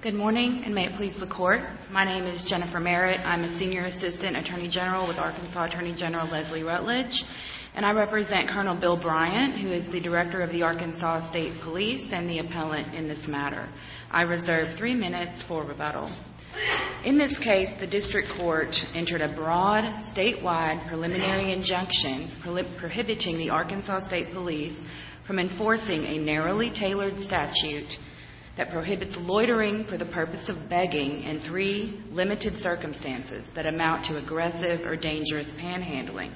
Good morning, and may it please the court. My name is Jennifer Merritt. I'm a Senior Assistant Attorney General with Arkansas Attorney General Leslie Rutledge, and I represent Colonel Bill Bryant, who is the Director of the Arkansas State Police and the appellant in this matter. I reserve three minutes for rebuttal. In this case, the District Court entered a broad statewide preliminary injunction prohibiting the Arkansas State Police from enforcing a narrowly tailored statute that prohibits loitering for the purpose of begging in three limited circumstances that amount to aggressive or dangerous panhandling.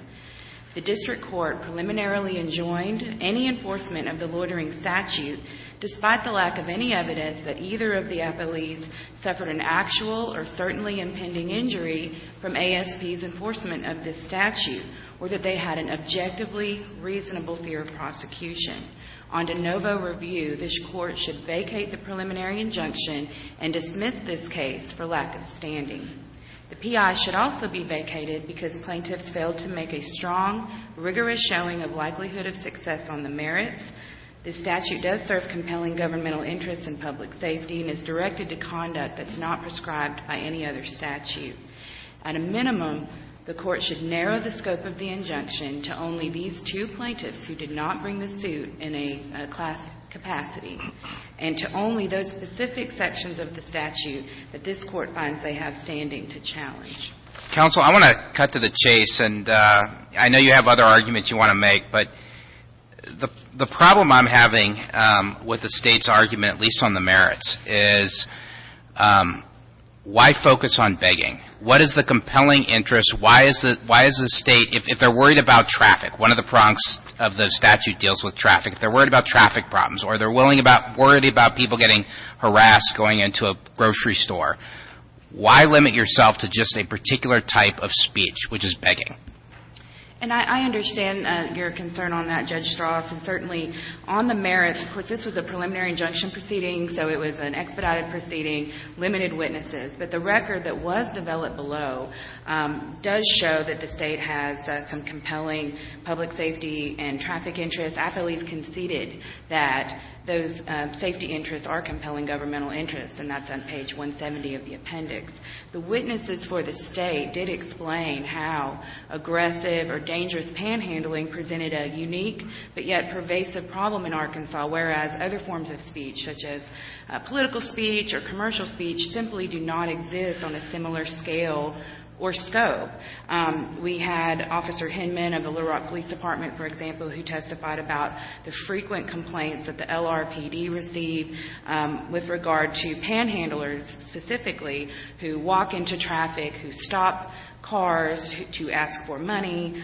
The District Court preliminarily enjoined any enforcement of the loitering statute, despite the lack of any evidence that either of the appellees suffered an actual or certainly impending injury from ASP's enforcement of this statute, or that they had an objectively reasonable fear of prosecution. On de novo review, this Court should vacate the preliminary injunction and dismiss this case for lack of standing. The P.I. should also be vacated because plaintiffs failed to make a strong, rigorous showing of likelihood of success on the merits. This statute does serve compelling governmental interests and public safety and is directed to conduct that's not prescribed by any other statute. At a minimum, the Court should narrow the scope of the injunction to only these two plaintiffs who did not bring the suit in a class capacity, and to only those specific sections of the statute that this Court finds they have standing to challenge. Counsel, I want to cut to the chase, and I know you have other arguments you want to make, but the problem I'm having with the State's argument, at least on the merits, is why focus on begging? What is the compelling interest? Why is the State, if they're worried about traffic, one of the prongs of the statute deals with traffic, if they're willing about, worried about people getting harassed going into a grocery store, why limit yourself to just a particular type of speech, which is begging? And I understand your concern on that, Judge Strauss, and certainly on the merits of course, this was a preliminary injunction proceeding, so it was an expedited proceeding, limited witnesses. But the record that was developed below does show that the State has some compelling public safety and traffic interests. I feel at least conceded that those safety interests are compelling governmental interests, and that's on page 170 of the appendix. The witnesses for the State did explain how aggressive or dangerous panhandling presented a unique but yet pervasive problem in Arkansas, whereas other forms of speech, such as political speech or commercial speech, simply do not exist on a similar scale or scope. We had Officer Hinman of the Little Rock Police Department, for example, who testified about the frequent complaints that the LRPD received with regard to panhandlers specifically, who walk into traffic, who stop cars to ask for money.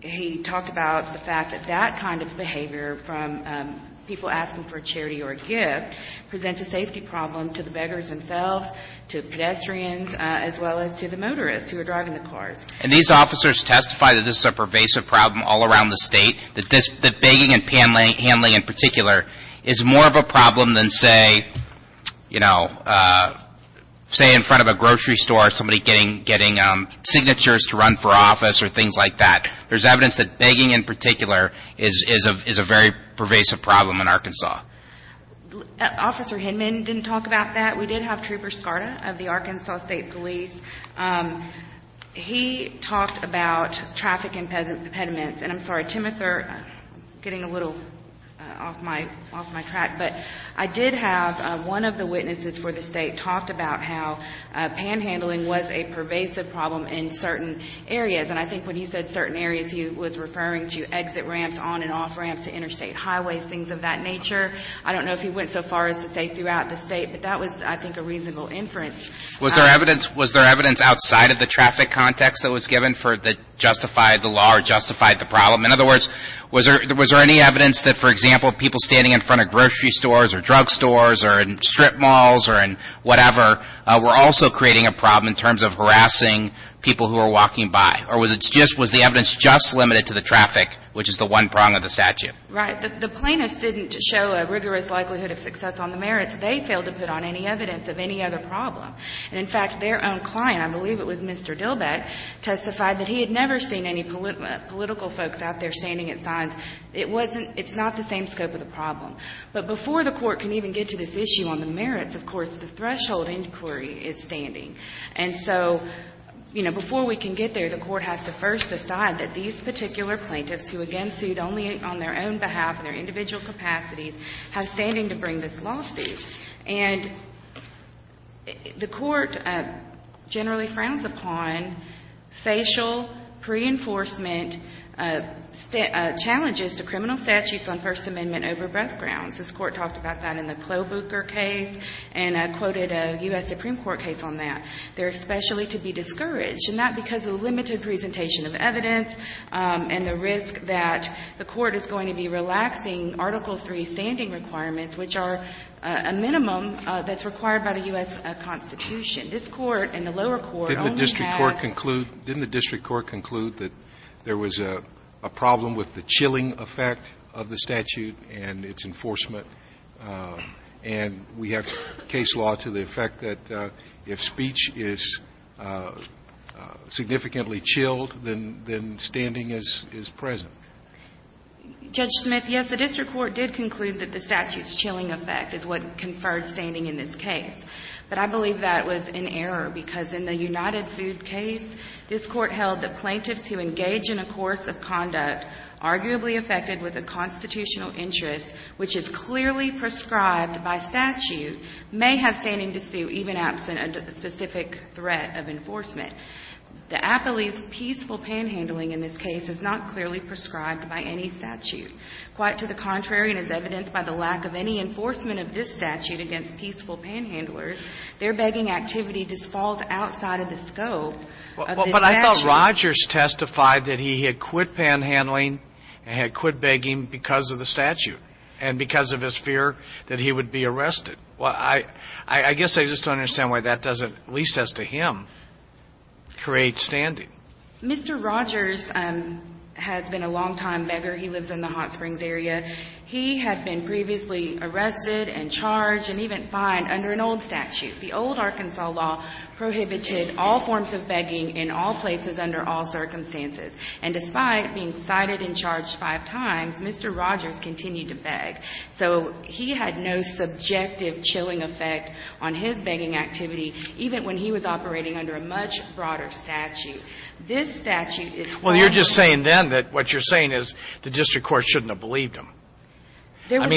He talked about the fact that that kind of behavior from people asking for charity or a gift presents a safety problem to the beggars themselves, to pedestrians, as well as to the motorists who are driving the cars. And these officers testify that this is a pervasive problem all around the State, that begging and panhandling in particular is more of a problem than, say, you know, say in front of a grocery store, somebody getting signatures to run for office or things like that. There's evidence that begging in particular is a very pervasive problem in Arkansas. Officer Hinman didn't talk about that. We did have Trooper Skarda of the Arkansas State Police. He talked about traffic impediments. And I'm sorry, Tim, if we're getting a little off my track, but I did have one of the witnesses for the State talked about how panhandling was a pervasive problem in certain areas. And I think when he said certain areas, he was referring to exit ramps, on and off ramps, to interstate highways, things of that nature. I don't know if he went so far as to say throughout the State, but that was, I think, a reasonable inference. Was there evidence outside of the traffic context that was given that justified the law or justified the problem? In other words, was there any evidence that, for example, people standing in front of grocery stores or drug stores or in strip malls or in whatever were also creating a problem in terms of harassing people who were walking by? Or was it just was the evidence just limited to the traffic, which is the one prong of the statute? Right. The plaintiffs didn't show a rigorous likelihood of success on the merits. They didn't fail to put on any evidence of any other problem. And, in fact, their own client, I believe it was Mr. Dillbeck, testified that he had never seen any political folks out there standing at signs. It wasn't – it's not the same scope of the problem. But before the Court can even get to this issue on the merits, of course, the threshold inquiry is standing. And so, you know, before we can get there, the Court has to first decide that these particular plaintiffs who, again, sued only on their own behalf and their individual capacities, have standing to bring this lawsuit. And the Court generally frowns upon facial pre-enforcement challenges to criminal statutes on First Amendment over-breath grounds. This Court talked about that in the Klobuchar case, and I quoted a U.S. Supreme Court case on that. They're especially to be discouraged, and that's because of the limited presentation of evidence and the risk that the Court is going to be relaxing Article III standing requirements, which are a minimum that's required by the U.S. Constitution. This Court and the lower court only has – Didn't the district court conclude that there was a problem with the chilling effect of the statute and its enforcement? And we have case law to the effect that if speech is significantly chilled, then standing is present. Judge Smith, yes, the district court did conclude that the statute's chilling effect is what conferred standing in this case. But I believe that was in error, because in the United Food case, this Court held that plaintiffs who engage in a course of conduct arguably affected with a constitutional interest, which is clearly prescribed by statute, may have standing to sue even absent a specific threat of enforcement. The appellee's peaceful panhandling in this case is not clearly prescribed by any statute. Quite to the contrary, and as evidenced by the lack of any enforcement of this statute against peaceful panhandlers, their begging activity just falls outside of the scope of this statute. But I thought Rogers testified that he had quit panhandling and had quit begging because of the statute and because of his fear that he would be arrested. Well, I guess I just don't understand why that doesn't, at least as to him, create standing. Mr. Rogers has been a longtime beggar. He lives in the Hot Springs area. He had been previously arrested and charged and even fined under an old statute. The old Arkansas law prohibited all forms of begging in all places under all circumstances. And despite being cited and charged five times, Mr. Rogers continued to beg. So he had no subjective chilling effect on his begging activity, even when he was operating under a much broader statute. This statute is quite different. Well, you're just saying then that what you're saying is the district court shouldn't have believed him. There was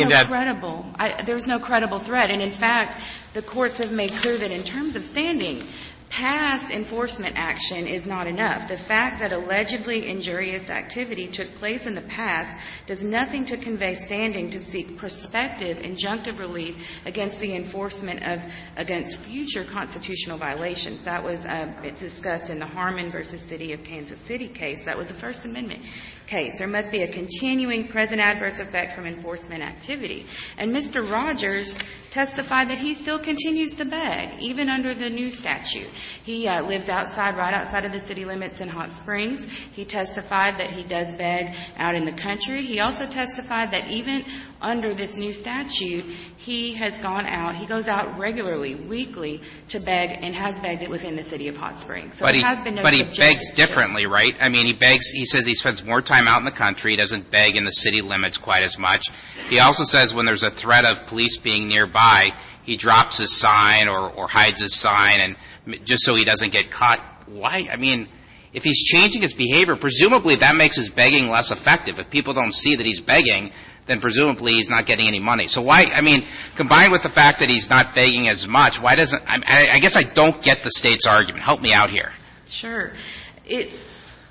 no credible threat. And in fact, the courts have made clear that in terms of standing, past enforcement action is not enough. The fact that allegedly injurious activity took place in the past does nothing to convey standing to seek prospective injunctive relief against the enforcement of — against future constitutional violations. That was — it's discussed in the Harmon v. City of Kansas City case. That was a First Amendment case. There must be a continuing present adverse effect from enforcement activity. And Mr. Rogers testified that he still continues to beg, even under the new statute. He lives outside — right outside of the city limits in Hot Springs. He testified that he does beg out in the country. He also testified that even under this new statute, he has gone out — he goes out regularly, weekly, to beg and has begged it within the city of Hot Springs. So it has been no subjective — But he begs differently, right? I mean, he begs — he says he spends more time out in the country, doesn't beg in the city limits quite as much. He also says when there's a threat of police being nearby, he drops his sign or hides his sign and — just so he doesn't get caught. Why? I mean, if he's changing his behavior, presumably that makes his begging less effective. If people don't see that he's begging, then presumably he's not getting any money. So why — I mean, combined with the fact that he's not begging as much, why doesn't — I guess I don't get the State's argument. Help me out here. Sure. It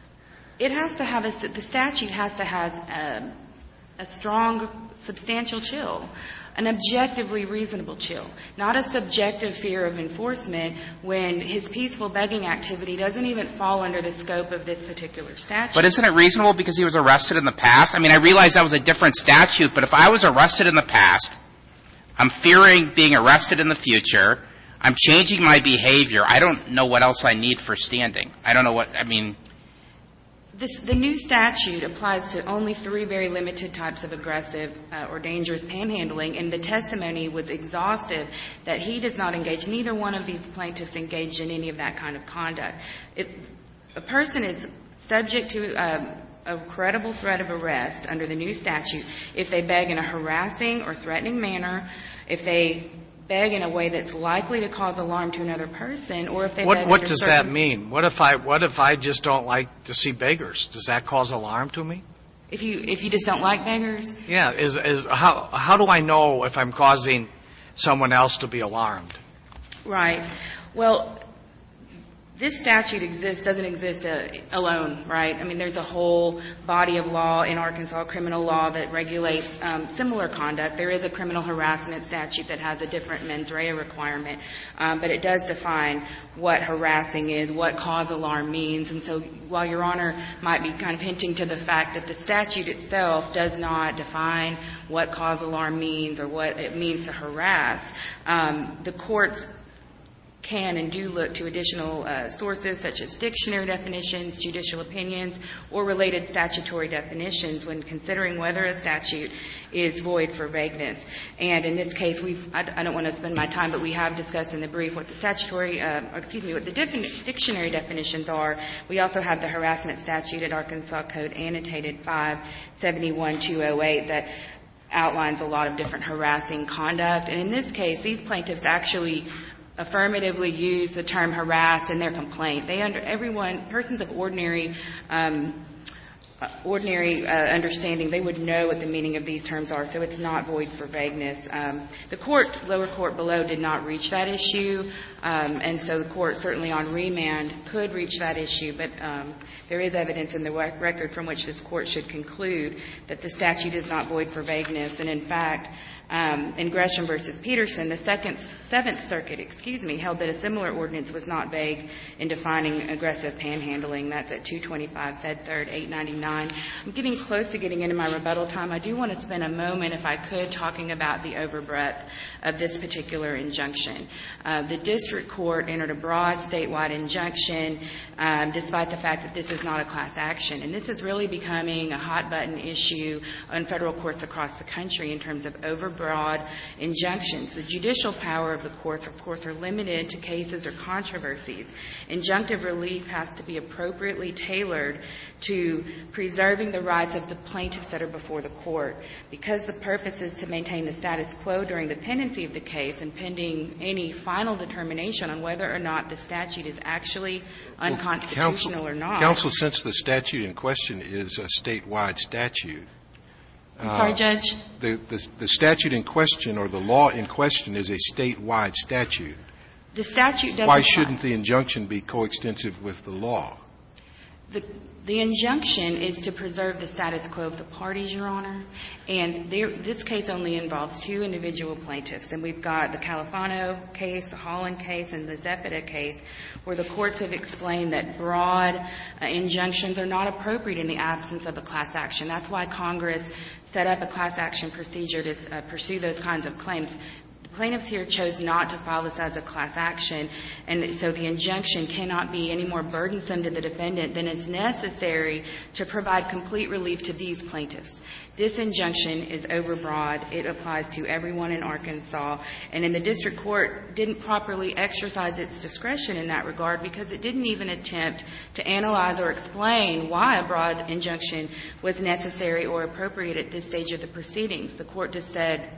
— it has to have a — the statute has to have a — a strong, substantial chill, an objectively reasonable chill, not a subjective fear of enforcement when his peaceful begging activity doesn't even fall under the scope of this particular statute. But isn't it reasonable because he was arrested in the past? I mean, I realize that was a different statute, but if I was arrested in the past, I'm fearing being arrested in the future. I'm changing my behavior. I don't know what else I need for standing. I don't know what — I mean — This — the new statute applies to only three very limited types of aggressive or dangerous panhandling, and the testimony was exhaustive that he does not engage — neither one of these plaintiffs engaged in any of that kind of conduct. A person is subject to a credible threat of arrest under the new statute if they beg in a harassing or threatening manner, if they beg in a way that's likely to cause alarm to another person, or if they beg under certain circumstances. What does that mean? What if I — what if I just don't like to see beggars? Does that cause alarm to me? If you — if you just don't like beggars? Yeah. Is — is — how — how do I know if I'm causing someone else to be alarmed? Right. Well, this statute exists — doesn't exist alone, right? I mean, there's a whole body of law in Arkansas, criminal law, that regulates similar conduct. There is a criminal harassment statute that has a different mens rea requirement, but it does define what harassing is, what cause alarm means. And so while Your Honor might be kind of hinting to the fact that the statute itself does not define what cause alarm means or what it means to harass, the courts can and do look to additional sources, such as dictionary definitions, judicial opinions, or related statutory definitions when considering whether a statute is void for vagueness. And in this case, we've — I don't want to spend my time, but we have discussed in the brief what the statutory — excuse me, what the dictionary definitions are. We also have the harassment statute at Arkansas Code, annotated 571208, that outlines a lot of different harassing conduct. And in this case, these plaintiffs actually affirmatively use the term harass in their complaint. They — everyone — persons of ordinary — ordinary understanding, they would know what the meaning of these terms are. So it's not void for vagueness. The court, lower court below, did not reach that issue, and so the court certainly on remand could reach that issue. But there is evidence in the record from which this Court should conclude that the statute is not void for vagueness. And in fact, in Gresham v. Peterson, the Second — Seventh Circuit, excuse me, held that a similar ordinance was not vague in defining aggressive panhandling. That's at 225 Fed Third 899. I'm getting close to getting into my rebuttal time. I do want to spend a moment, if I could, talking about the overbreadth of this particular injunction. The district court entered a broad statewide injunction, despite the fact that this is not a class action. And this is really becoming a hot-button issue on Federal courts across the country in terms of overbroad injunctions. The judicial power of the courts, of course, are limited to cases or controversies. Injunctive relief has to be appropriately tailored to preserving the rights of the plaintiffs that are before the court. Because the purpose is to maintain the status quo during the pendency of the case and pending any final determination on whether or not the statute is actually unconstitutional or not. Scalia. Counsel, since the statute in question is a statewide statute — I'm sorry, Judge. The statute in question or the law in question is a statewide statute. The statute doesn't — Why shouldn't the injunction be coextensive with the law? The injunction is to preserve the status quo of the parties, Your Honor. And this case only involves two individual plaintiffs. And we've got the Califano case, the Holland case, and the Zepeda case, where the courts have explained that broad injunctions are not appropriate in the absence of a class action. That's why Congress set up a class action procedure to pursue those kinds of claims. The plaintiffs here chose not to file this as a class action, and so the injunction cannot be any more burdensome to the defendant than is necessary to provide complete relief to these plaintiffs. This injunction is overbroad. It applies to everyone in Arkansas. And in the district court, didn't properly exercise its discretion in that regard because it didn't even attempt to analyze or explain why a broad injunction was necessary or appropriate at this stage of the proceedings. The court just said,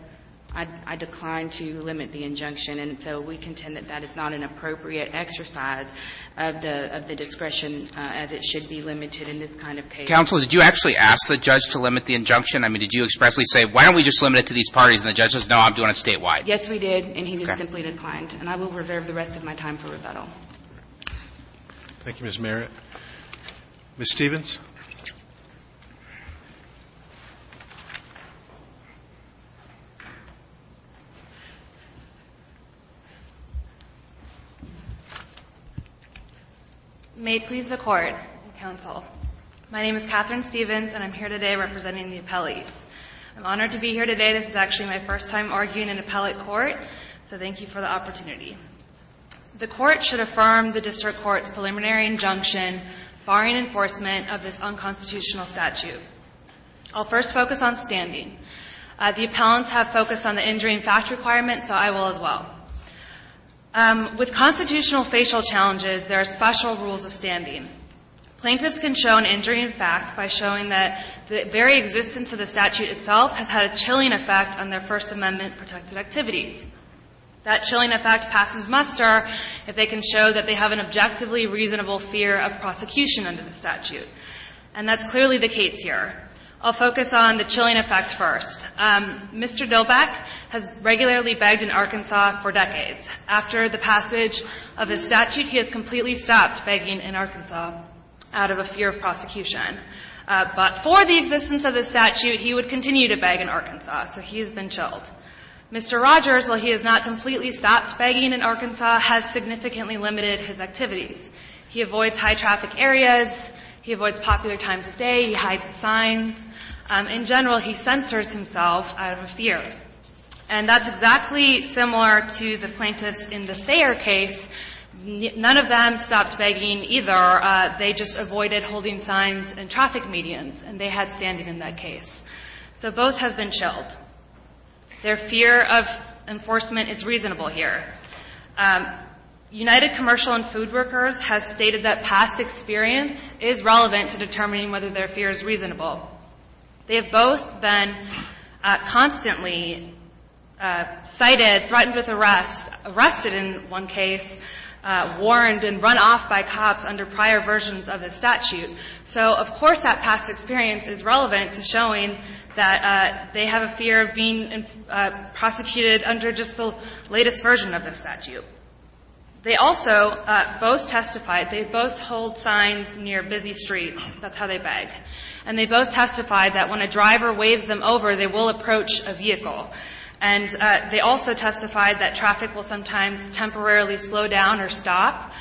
I decline to limit the injunction. And so we contend that that is not an appropriate exercise of the — of the discretion as it should be limited in this kind of case. Counsel, did you actually ask the judge to limit the injunction? I mean, did you expressly say, why don't we just limit it to these parties? And the judge says, no, I'm doing it statewide. Yes, we did. And he just simply declined. And I will reserve the rest of my time for rebuttal. Thank you, Ms. Merritt. Ms. Stephens. May it please the Court and counsel, my name is Catherine Stephens, and I'm here today representing the appellees. I'm honored to be here today. This is actually my first time arguing in appellate court, so thank you for the opportunity. The Court should affirm the district court's preliminary injunction barring enforcement of this unconstitutional statute. I'll first focus on standing. The appellants have focused on the injury and fact requirement, so I will as well. With constitutional facial challenges, there are special rules of standing. Plaintiffs can show an injury in fact by showing that the very existence of the statute itself has had a chilling effect on their First Amendment-protected activities. That chilling effect passes muster if they can show that they have an objectively reasonable fear of prosecution under the statute. And that's clearly the case here. I'll focus on the chilling effect first. Mr. Doback has regularly begged in Arkansas for decades. After the passage of the statute, he has completely stopped begging in Arkansas out of a fear of prosecution. But for the existence of the statute, he would continue to beg in Arkansas, so he has been chilled. Mr. Rogers, while he has not completely stopped begging in Arkansas, has significantly limited his activities. He avoids high-traffic areas. He avoids popular times of day. He hides signs. In general, he censors himself out of a fear. And that's exactly similar to the plaintiffs in the Thayer case. None of them stopped begging either. They just avoided holding signs in traffic medians, and they had standing in that case. So both have been chilled. Their fear of enforcement is reasonable here. United Commercial and Food Workers has stated that past experience is relevant to determining whether their fear is reasonable. They have both been constantly cited, threatened with arrest, arrested in one case, warned and run off by cops under prior versions of the statute. So of course that past experience is relevant to showing that they have a fear of being prosecuted under just the latest version of the statute. They also both testified, they both hold signs near busy streets, that's how they beg. And they both testified that when a driver waves them over, they will approach a vehicle. And they also testified that traffic will sometimes temporarily slow down or stop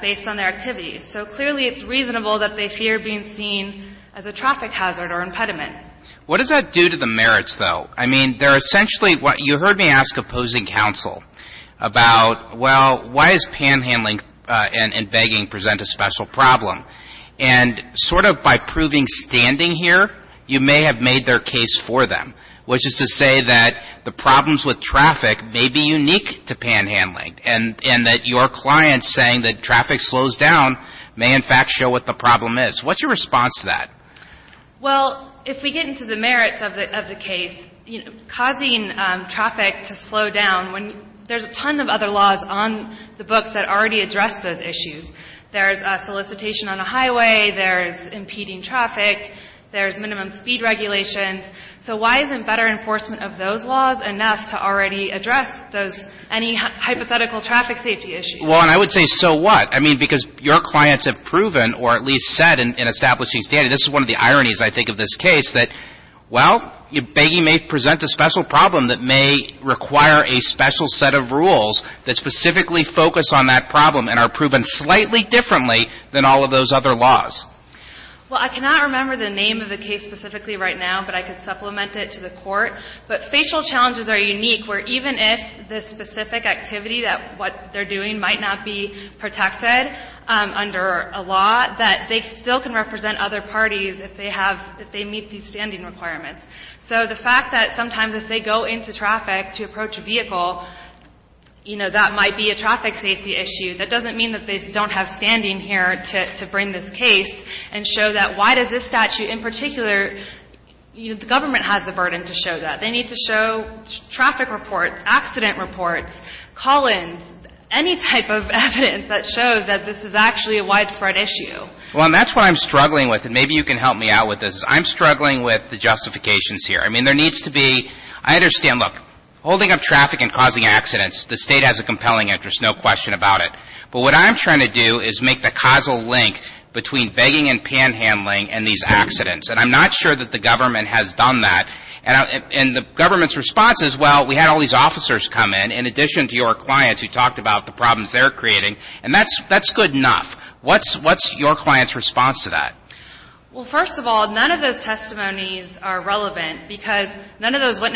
based on their activities. So clearly it's reasonable that they fear being seen as a traffic hazard or impediment. What does that do to the merits, though? I mean, they're essentially what you heard me ask opposing counsel about, well, why is panhandling and begging present a special problem? And sort of by proving standing here, you may have made their case for them, which is to say that the problems with traffic may be unique to panhandling and that your client saying that traffic slows down may in fact show what the problem is. What's your response to that? Well, if we get into the merits of the case, you know, causing traffic to slow down, when there's a ton of other laws on the books that already address those issues. There's a solicitation on a highway, there's impeding traffic, there's minimum speed regulations. So why isn't better enforcement of those laws enough to already address any hypothetical traffic safety issue? Well, and I would say, so what? I mean, because your clients have proven or at least said in establishing standing, this is one of the ironies, I think, of this case, that, well, begging may present a special problem that may require a special set of rules that specifically focus on that problem and are proven slightly differently than all of those other laws. Well, I cannot remember the name of the case specifically right now, but I could supplement it to the Court. But facial challenges are unique, where even if the specific activity that what they're doing might not be protected under a law, that they still can represent other parties if they have, if they meet these standing requirements. So the fact that sometimes if they go into traffic to approach a vehicle, you know, that might be a traffic safety issue, that doesn't mean that they don't have standing here to bring this case and show that why does this statute in particular, you know, the government has the burden to show that. They need to show traffic reports, accident reports, call-ins, any type of evidence that shows that this is actually a widespread issue. Well, and that's what I'm struggling with, and maybe you can help me out with this. I'm struggling with the justifications here. I mean, there needs to be, I understand, look, holding up traffic and causing accidents, the State has a compelling interest, no question about it. But what I'm trying to do is make the causal link between begging and panhandling and these accidents. And I'm not sure that the government has done that, and the government's response is, well, we had all these officers come in, in addition to your clients who talked about the problems they're creating, and that's good enough. What's your client's response to that? Well, first of all, none of those testimonies are relevant, because none of those are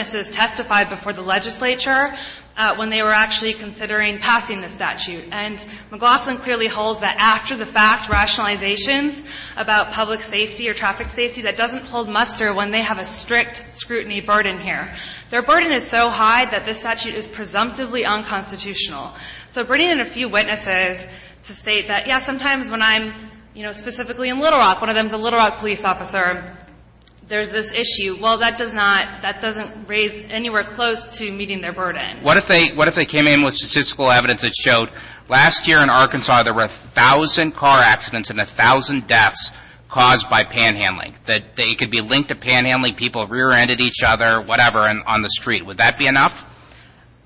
actually considering passing the statute. And McLaughlin clearly holds that after-the-fact rationalizations about public safety or traffic safety, that doesn't hold muster when they have a strict scrutiny burden here. Their burden is so high that this statute is presumptively unconstitutional. So bringing in a few witnesses to state that, yes, sometimes when I'm, you know, specifically in Little Rock, one of them's a Little Rock police officer, there's this issue. Well, that does not, that doesn't raise anywhere close to meeting their burden. What if they, what if they came in with statistical evidence that showed last year in Arkansas, there were a thousand car accidents and a thousand deaths caused by panhandling, that they could be linked to panhandling, people rear-ended each other, whatever, on the street? Would that be enough?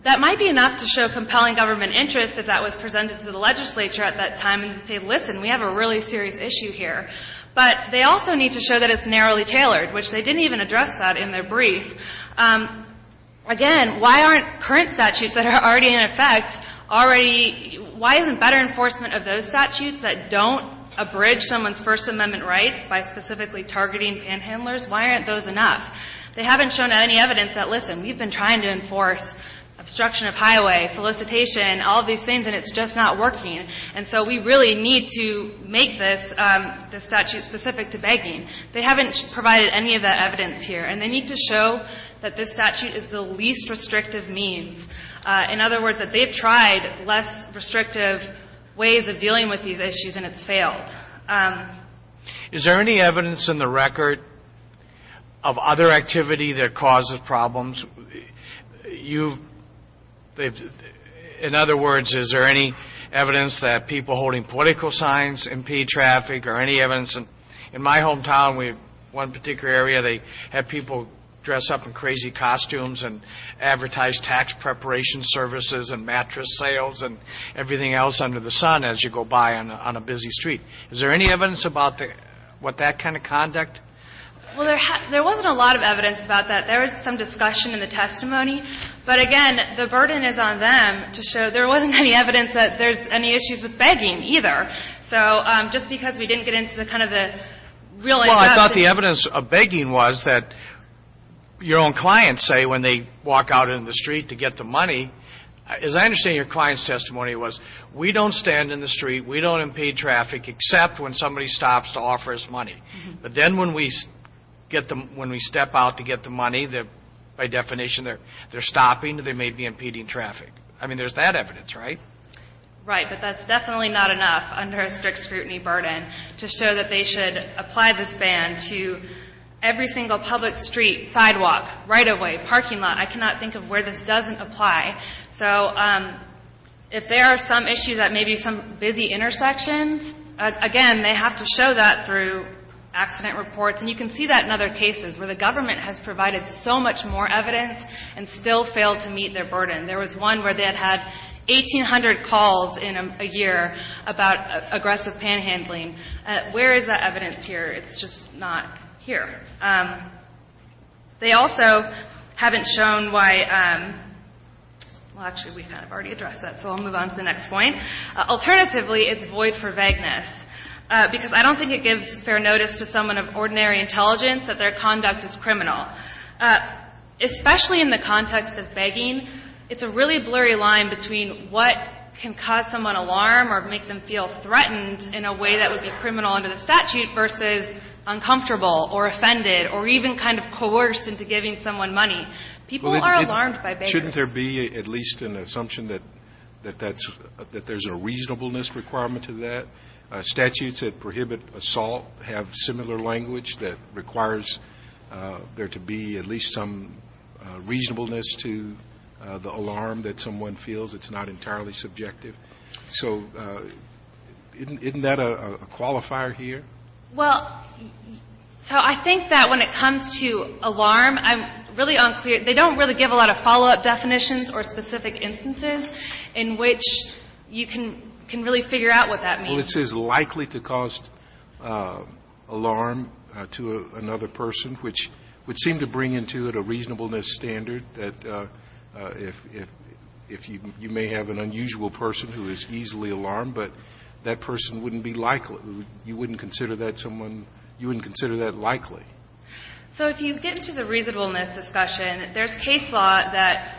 That might be enough to show compelling government interest, if that was presented to the legislature at that time, and say, listen, we have a really serious issue here. But they also need to show that it's narrowly tailored, which they didn't even address that in their brief. Again, why aren't current statutes that are already in effect already, why isn't better enforcement of those statutes that don't abridge someone's First Amendment rights by specifically targeting panhandlers, why aren't those enough? They haven't shown any evidence that, listen, we've been trying to enforce obstruction of highway, solicitation, all these things, and it's just not working. And so we really need to make this, this statute specific to begging. They haven't provided any of that evidence here. And they need to show that this statute is the least restrictive means. In other words, that they've tried less restrictive ways of dealing with these issues, and it's failed. Kennedy. Is there any evidence in the record of other activity that causes problems? You've, they've, in other words, is there any evidence that people holding political signs impede traffic, or any evidence? And in my hometown, we have one particular area, they have people dress up in crazy costumes and advertise tax preparation services and mattress sales and everything else under the sun as you go by on a busy street. Is there any evidence about what that kind of conduct? Well, there wasn't a lot of evidence about that. There was some discussion in the testimony. But again, the burden is on them to show there wasn't any evidence that there's any issues with begging either. So just because we didn't get into the kind of the real... Well, I thought the evidence of begging was that your own clients say when they walk out in the street to get the money, as I understand your client's testimony was, we don't stand in the street, we don't impede traffic except when somebody stops to offer us money. But then when we get them, when we step out to get the money, by definition, they're stopping, they may be impeding traffic. I mean, there's that evidence, right? Right. But that's definitely not enough under a strict scrutiny burden to show that they should apply this ban to every single public street, sidewalk, right-of-way, parking lot. I cannot think of where this doesn't apply. So if there are some issues at maybe some busy intersections, again, they have to show that through accident reports. And you can see that in other cases where the government has provided so much more evidence and still failed to meet their burden. There was one where they had had 1,800 calls in a year about aggressive panhandling. Where is that evidence here? It's just not here. They also haven't shown why – well, actually, we kind of already addressed that, so I'll move on to the next point. Alternatively, it's void for vagueness because I don't think it gives fair notice to someone of ordinary intelligence that their conduct is criminal. Especially in the context of begging, it's a really blurry line between what can cause someone alarm or make them feel threatened in a way that would be criminal under the statute versus uncomfortable or offended or even kind of coerced into giving someone money. People are alarmed by vagueness. Shouldn't there be at least an assumption that that's – that there's a reasonableness requirement to that? Statutes that prohibit assault have similar language that requires there to be at least some reasonableness to the alarm that someone feels. It's not entirely subjective. So isn't that a qualifier here? Well, so I think that when it comes to alarm, I'm really unclear – they don't really give a lot of follow-up definitions or specific instances in which you can really figure out what that means. Well, it says likely to cause alarm to another person, which would seem to bring into it a reasonableness standard that if you may have an unusual person who is easily alarmed, but that person wouldn't be likely. You wouldn't consider that someone – you wouldn't consider that likely. So if you get into the reasonableness discussion, there's case law that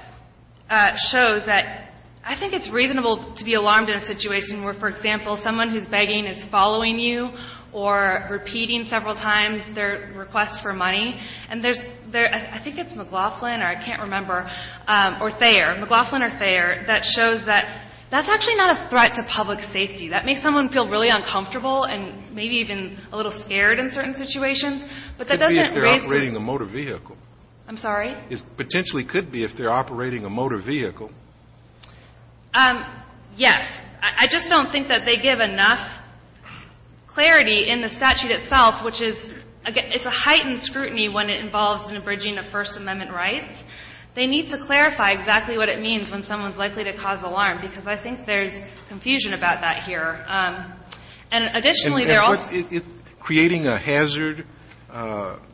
shows that I think it's reasonable to be alarmed in a situation where, for example, someone who's begging is following you or repeating several times their request for money. And there's – I think it's McLaughlin or I can't remember, or Thayer, McLaughlin or Thayer, that shows that that's actually not a threat to public safety. That makes someone feel really uncomfortable and maybe even a little scared in certain But that doesn't raise the – It could be if they're operating a motor vehicle. I'm sorry? It potentially could be if they're operating a motor vehicle. Yes. I just don't think that they give enough clarity in the statute itself, which is – it's a heightened scrutiny when it involves an abridging of First Amendment rights. They need to clarify exactly what it means when someone's likely to cause alarm, because I think there's confusion about that here. And additionally, they're also – Creating a hazard,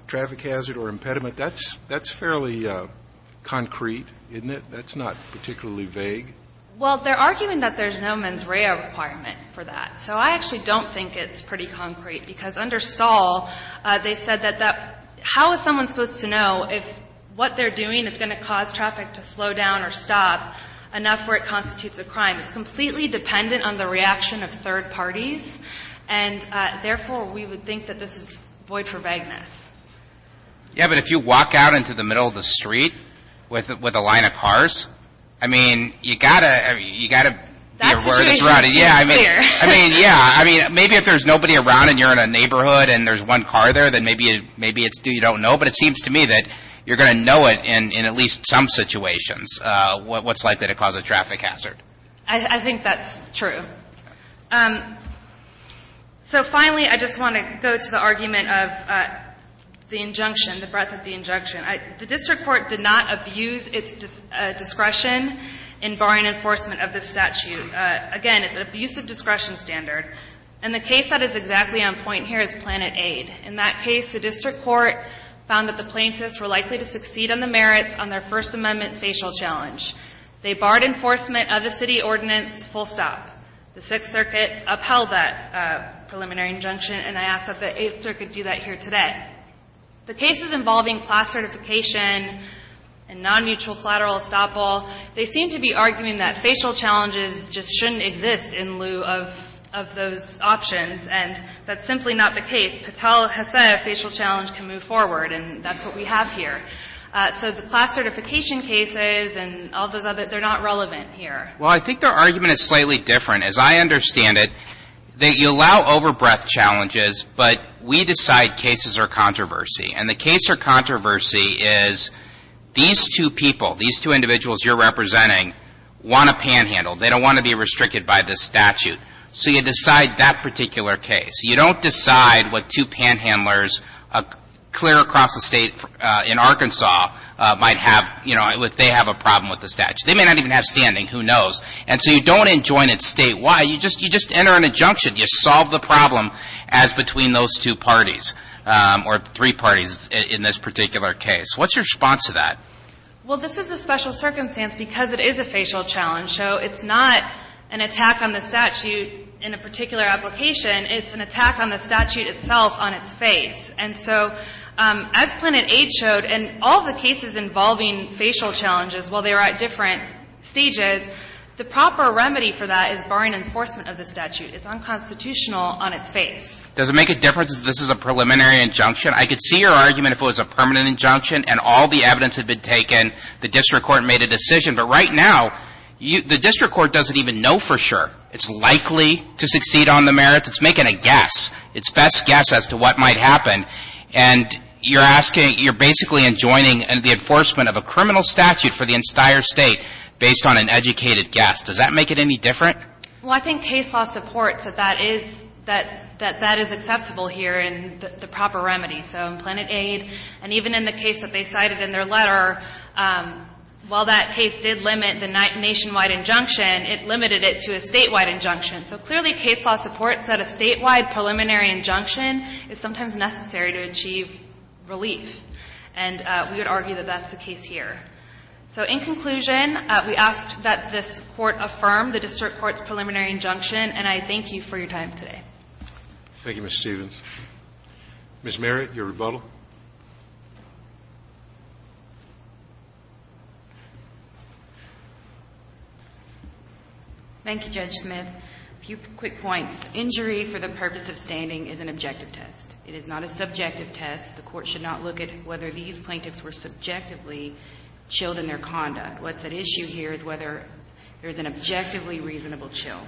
traffic hazard or impediment, that's fairly concrete, isn't it? That's not particularly vague. Well, they're arguing that there's no mens rea requirement for that. So I actually don't think it's pretty concrete, because under Stahl, they said that that – how is someone supposed to know if what they're doing is going to cause traffic to slow down or stop enough where it constitutes a crime? It's completely dependent on the reaction of third parties. And therefore, we would think that this is void for vagueness. Yeah, but if you walk out into the middle of the street with a line of cars, I mean, you've got to – you've got to be aware of this route. That situation is clear. I mean, yeah. I mean, maybe if there's nobody around and you're in a neighborhood and there's one car there, then maybe it's – you don't know. But it seems to me that you're going to know it in at least some situations what's likely to cause a traffic hazard. I think that's true. So finally, I just want to go to the argument of the injunction, the breadth of the injunction. The district court did not abuse its discretion in barring enforcement of this statute. Again, it's an abusive discretion standard. And the case that is exactly on point here is Planet Aid. In that case, the district court found that the plaintiffs were likely to succeed on the merits on their First Amendment facial challenge. They barred enforcement of the city ordinance full stop. The Sixth Circuit upheld that preliminary injunction. And I ask that the Eighth Circuit do that here today. The cases involving class certification and non-mutual collateral estoppel, they seem to be arguing that facial challenges just shouldn't exist in lieu of those options. And that's simply not the case. Patel has said a facial challenge can move forward, and that's what we have here. So the class certification cases and all those other – they're not relevant here. Well, I think their argument is slightly different. As I understand it, you allow overbreadth challenges, but we decide cases are controversy. And the case for controversy is these two people, these two individuals you're representing, want to panhandle. They don't want to be restricted by this statute. So you decide that particular case. You don't decide what two panhandlers clear across the State in Arkansas might have, you know, if they have a problem with the statute. They may not even have standing. Who knows? And so you don't enjoin it State-wide. You just enter an injunction. You solve the problem as between those two parties or three parties in this particular case. What's your response to that? Well, this is a special circumstance because it is a facial challenge. So it's not an attack on the statute in a particular application. It's an attack on the statute itself on its face. And so as Planet Aid showed, in all the cases involving facial challenges, while they were at different stages, the proper remedy for that is barring enforcement of the statute. It's unconstitutional on its face. Does it make a difference if this is a preliminary injunction? I could see your argument if it was a permanent injunction and all the evidence had been taken, the district court made a decision. But right now, the district court doesn't even know for sure. It's likely to succeed on the merits. It's making a guess. It's best guess as to what might happen. And you're asking – you're basically enjoining the enforcement of a criminal statute for the entire State based on an educated guess. Does that make it any different? Well, I think case law supports that that is – that that is acceptable here in the proper remedy. So in Planet Aid and even in the case that they cited in their letter, while that case did limit the nationwide injunction, it limited it to a statewide injunction. So clearly, case law supports that a statewide preliminary injunction is sometimes necessary to achieve relief. And we would argue that that's the case here. So in conclusion, we ask that this Court affirm the district court's preliminary injunction, and I thank you for your time today. Thank you, Ms. Stevens. Ms. Merritt, your rebuttal. Thank you, Judge Smith. A few quick points. Injury for the purpose of standing is an objective test. It is not a subjective test. The court should not look at whether these plaintiffs were subjectively chilled in their conduct. What's at issue here is whether there's an objectively reasonable chill.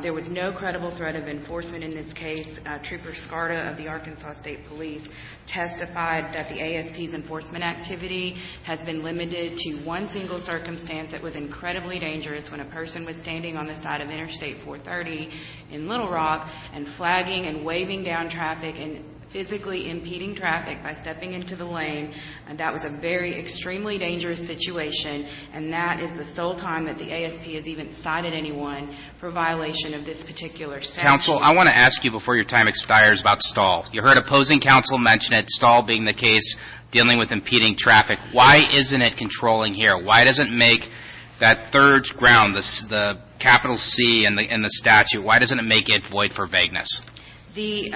There was no credible threat of enforcement in this case. Trooper Scarta of the Arkansas State Police testified that the ASP's enforcement activity has been limited to one single circumstance that was incredibly dangerous when a person was standing on the side of Interstate 430 in Little Rock and flagging and waving down traffic and physically impeding traffic by stepping into the lane. That was a very extremely dangerous situation, and that is the sole time that the ASP has even cited anyone for violation of this particular statute. Counsel, I want to ask you before your time expires about Stahl. You heard opposing counsel mention it, Stahl being the case dealing with impeding traffic. Why isn't it controlling here? Why doesn't it make that third ground, the capital C in the statute, why doesn't it make it void for vagueness? The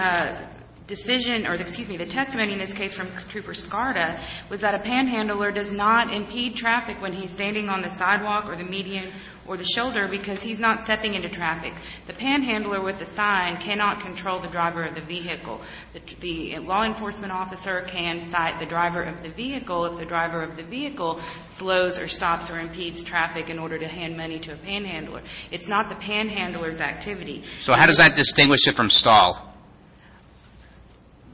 decision or, excuse me, the testimony in this case from Trooper Scarta was that a panhandler does not impede traffic when he's standing on the sidewalk or the median or the shoulder because he's not stepping into traffic. The panhandler with the sign cannot control the driver of the vehicle. The law enforcement officer can cite the driver of the vehicle if the driver of the vehicle slows or stops or impedes traffic in order to hand money to a panhandler. It's not the panhandler's activity. So how does that distinguish it from Stahl,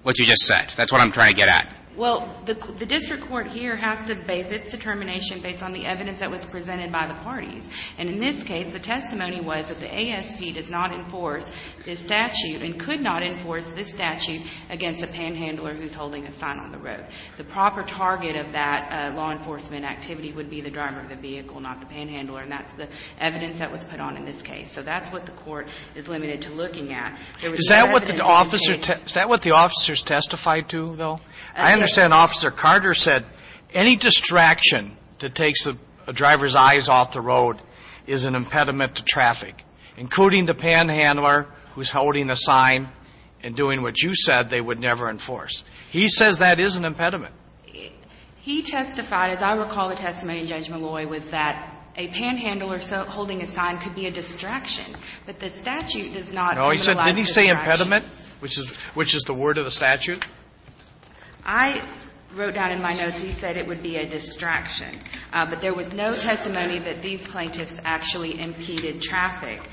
what you just said? That's what I'm trying to get at. Well, the district court here has to base its determination based on the evidence that was presented by the parties. And in this case, the testimony was that the ASP does not enforce this statute and could not enforce this statute against a panhandler who's holding a sign on the road. The proper target of that law enforcement activity would be the driver of the vehicle, not the panhandler, and that's the evidence that was put on in this case. So that's what the court is limited to looking at. Is that what the officer's testified to, though? I understand Officer Carter said any distraction that takes the driver's eyes off the road is an impediment to traffic, including the panhandler who's holding a sign and doing what you said they would never enforce. He says that is an impediment. He testified, as I recall the testimony in Judge Molloy, was that a panhandler holding a sign could be a distraction, but the statute does not utilize distractions. No, he said, did he say impediment, which is the word of the statute? I wrote down in my notes he said it would be a distraction, but there was no testimony that these plaintiffs actually impeded traffic,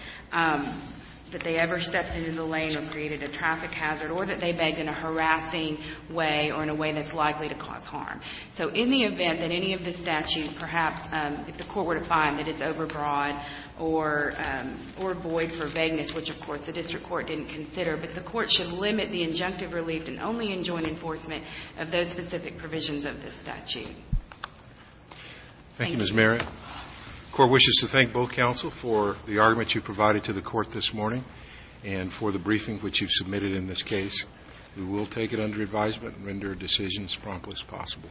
that they ever stepped into the lane or created a traffic hazard, or that they begged in a harassing way or in a way that's likely to cause harm. So in the event that any of the statute, perhaps if the court were to find that it's overbroad or void for vagueness, which, of course, the district court didn't consider, but the court should limit the injunctive relief and only enjoin enforcement of those specific provisions of the statute. Thank you, Mrs. Merritt. The Court wishes to thank both counsel for the argument you provided to the Court this morning and for the briefing which you've submitted in this case. We will take it under advisement and render a decision as promptly as possible.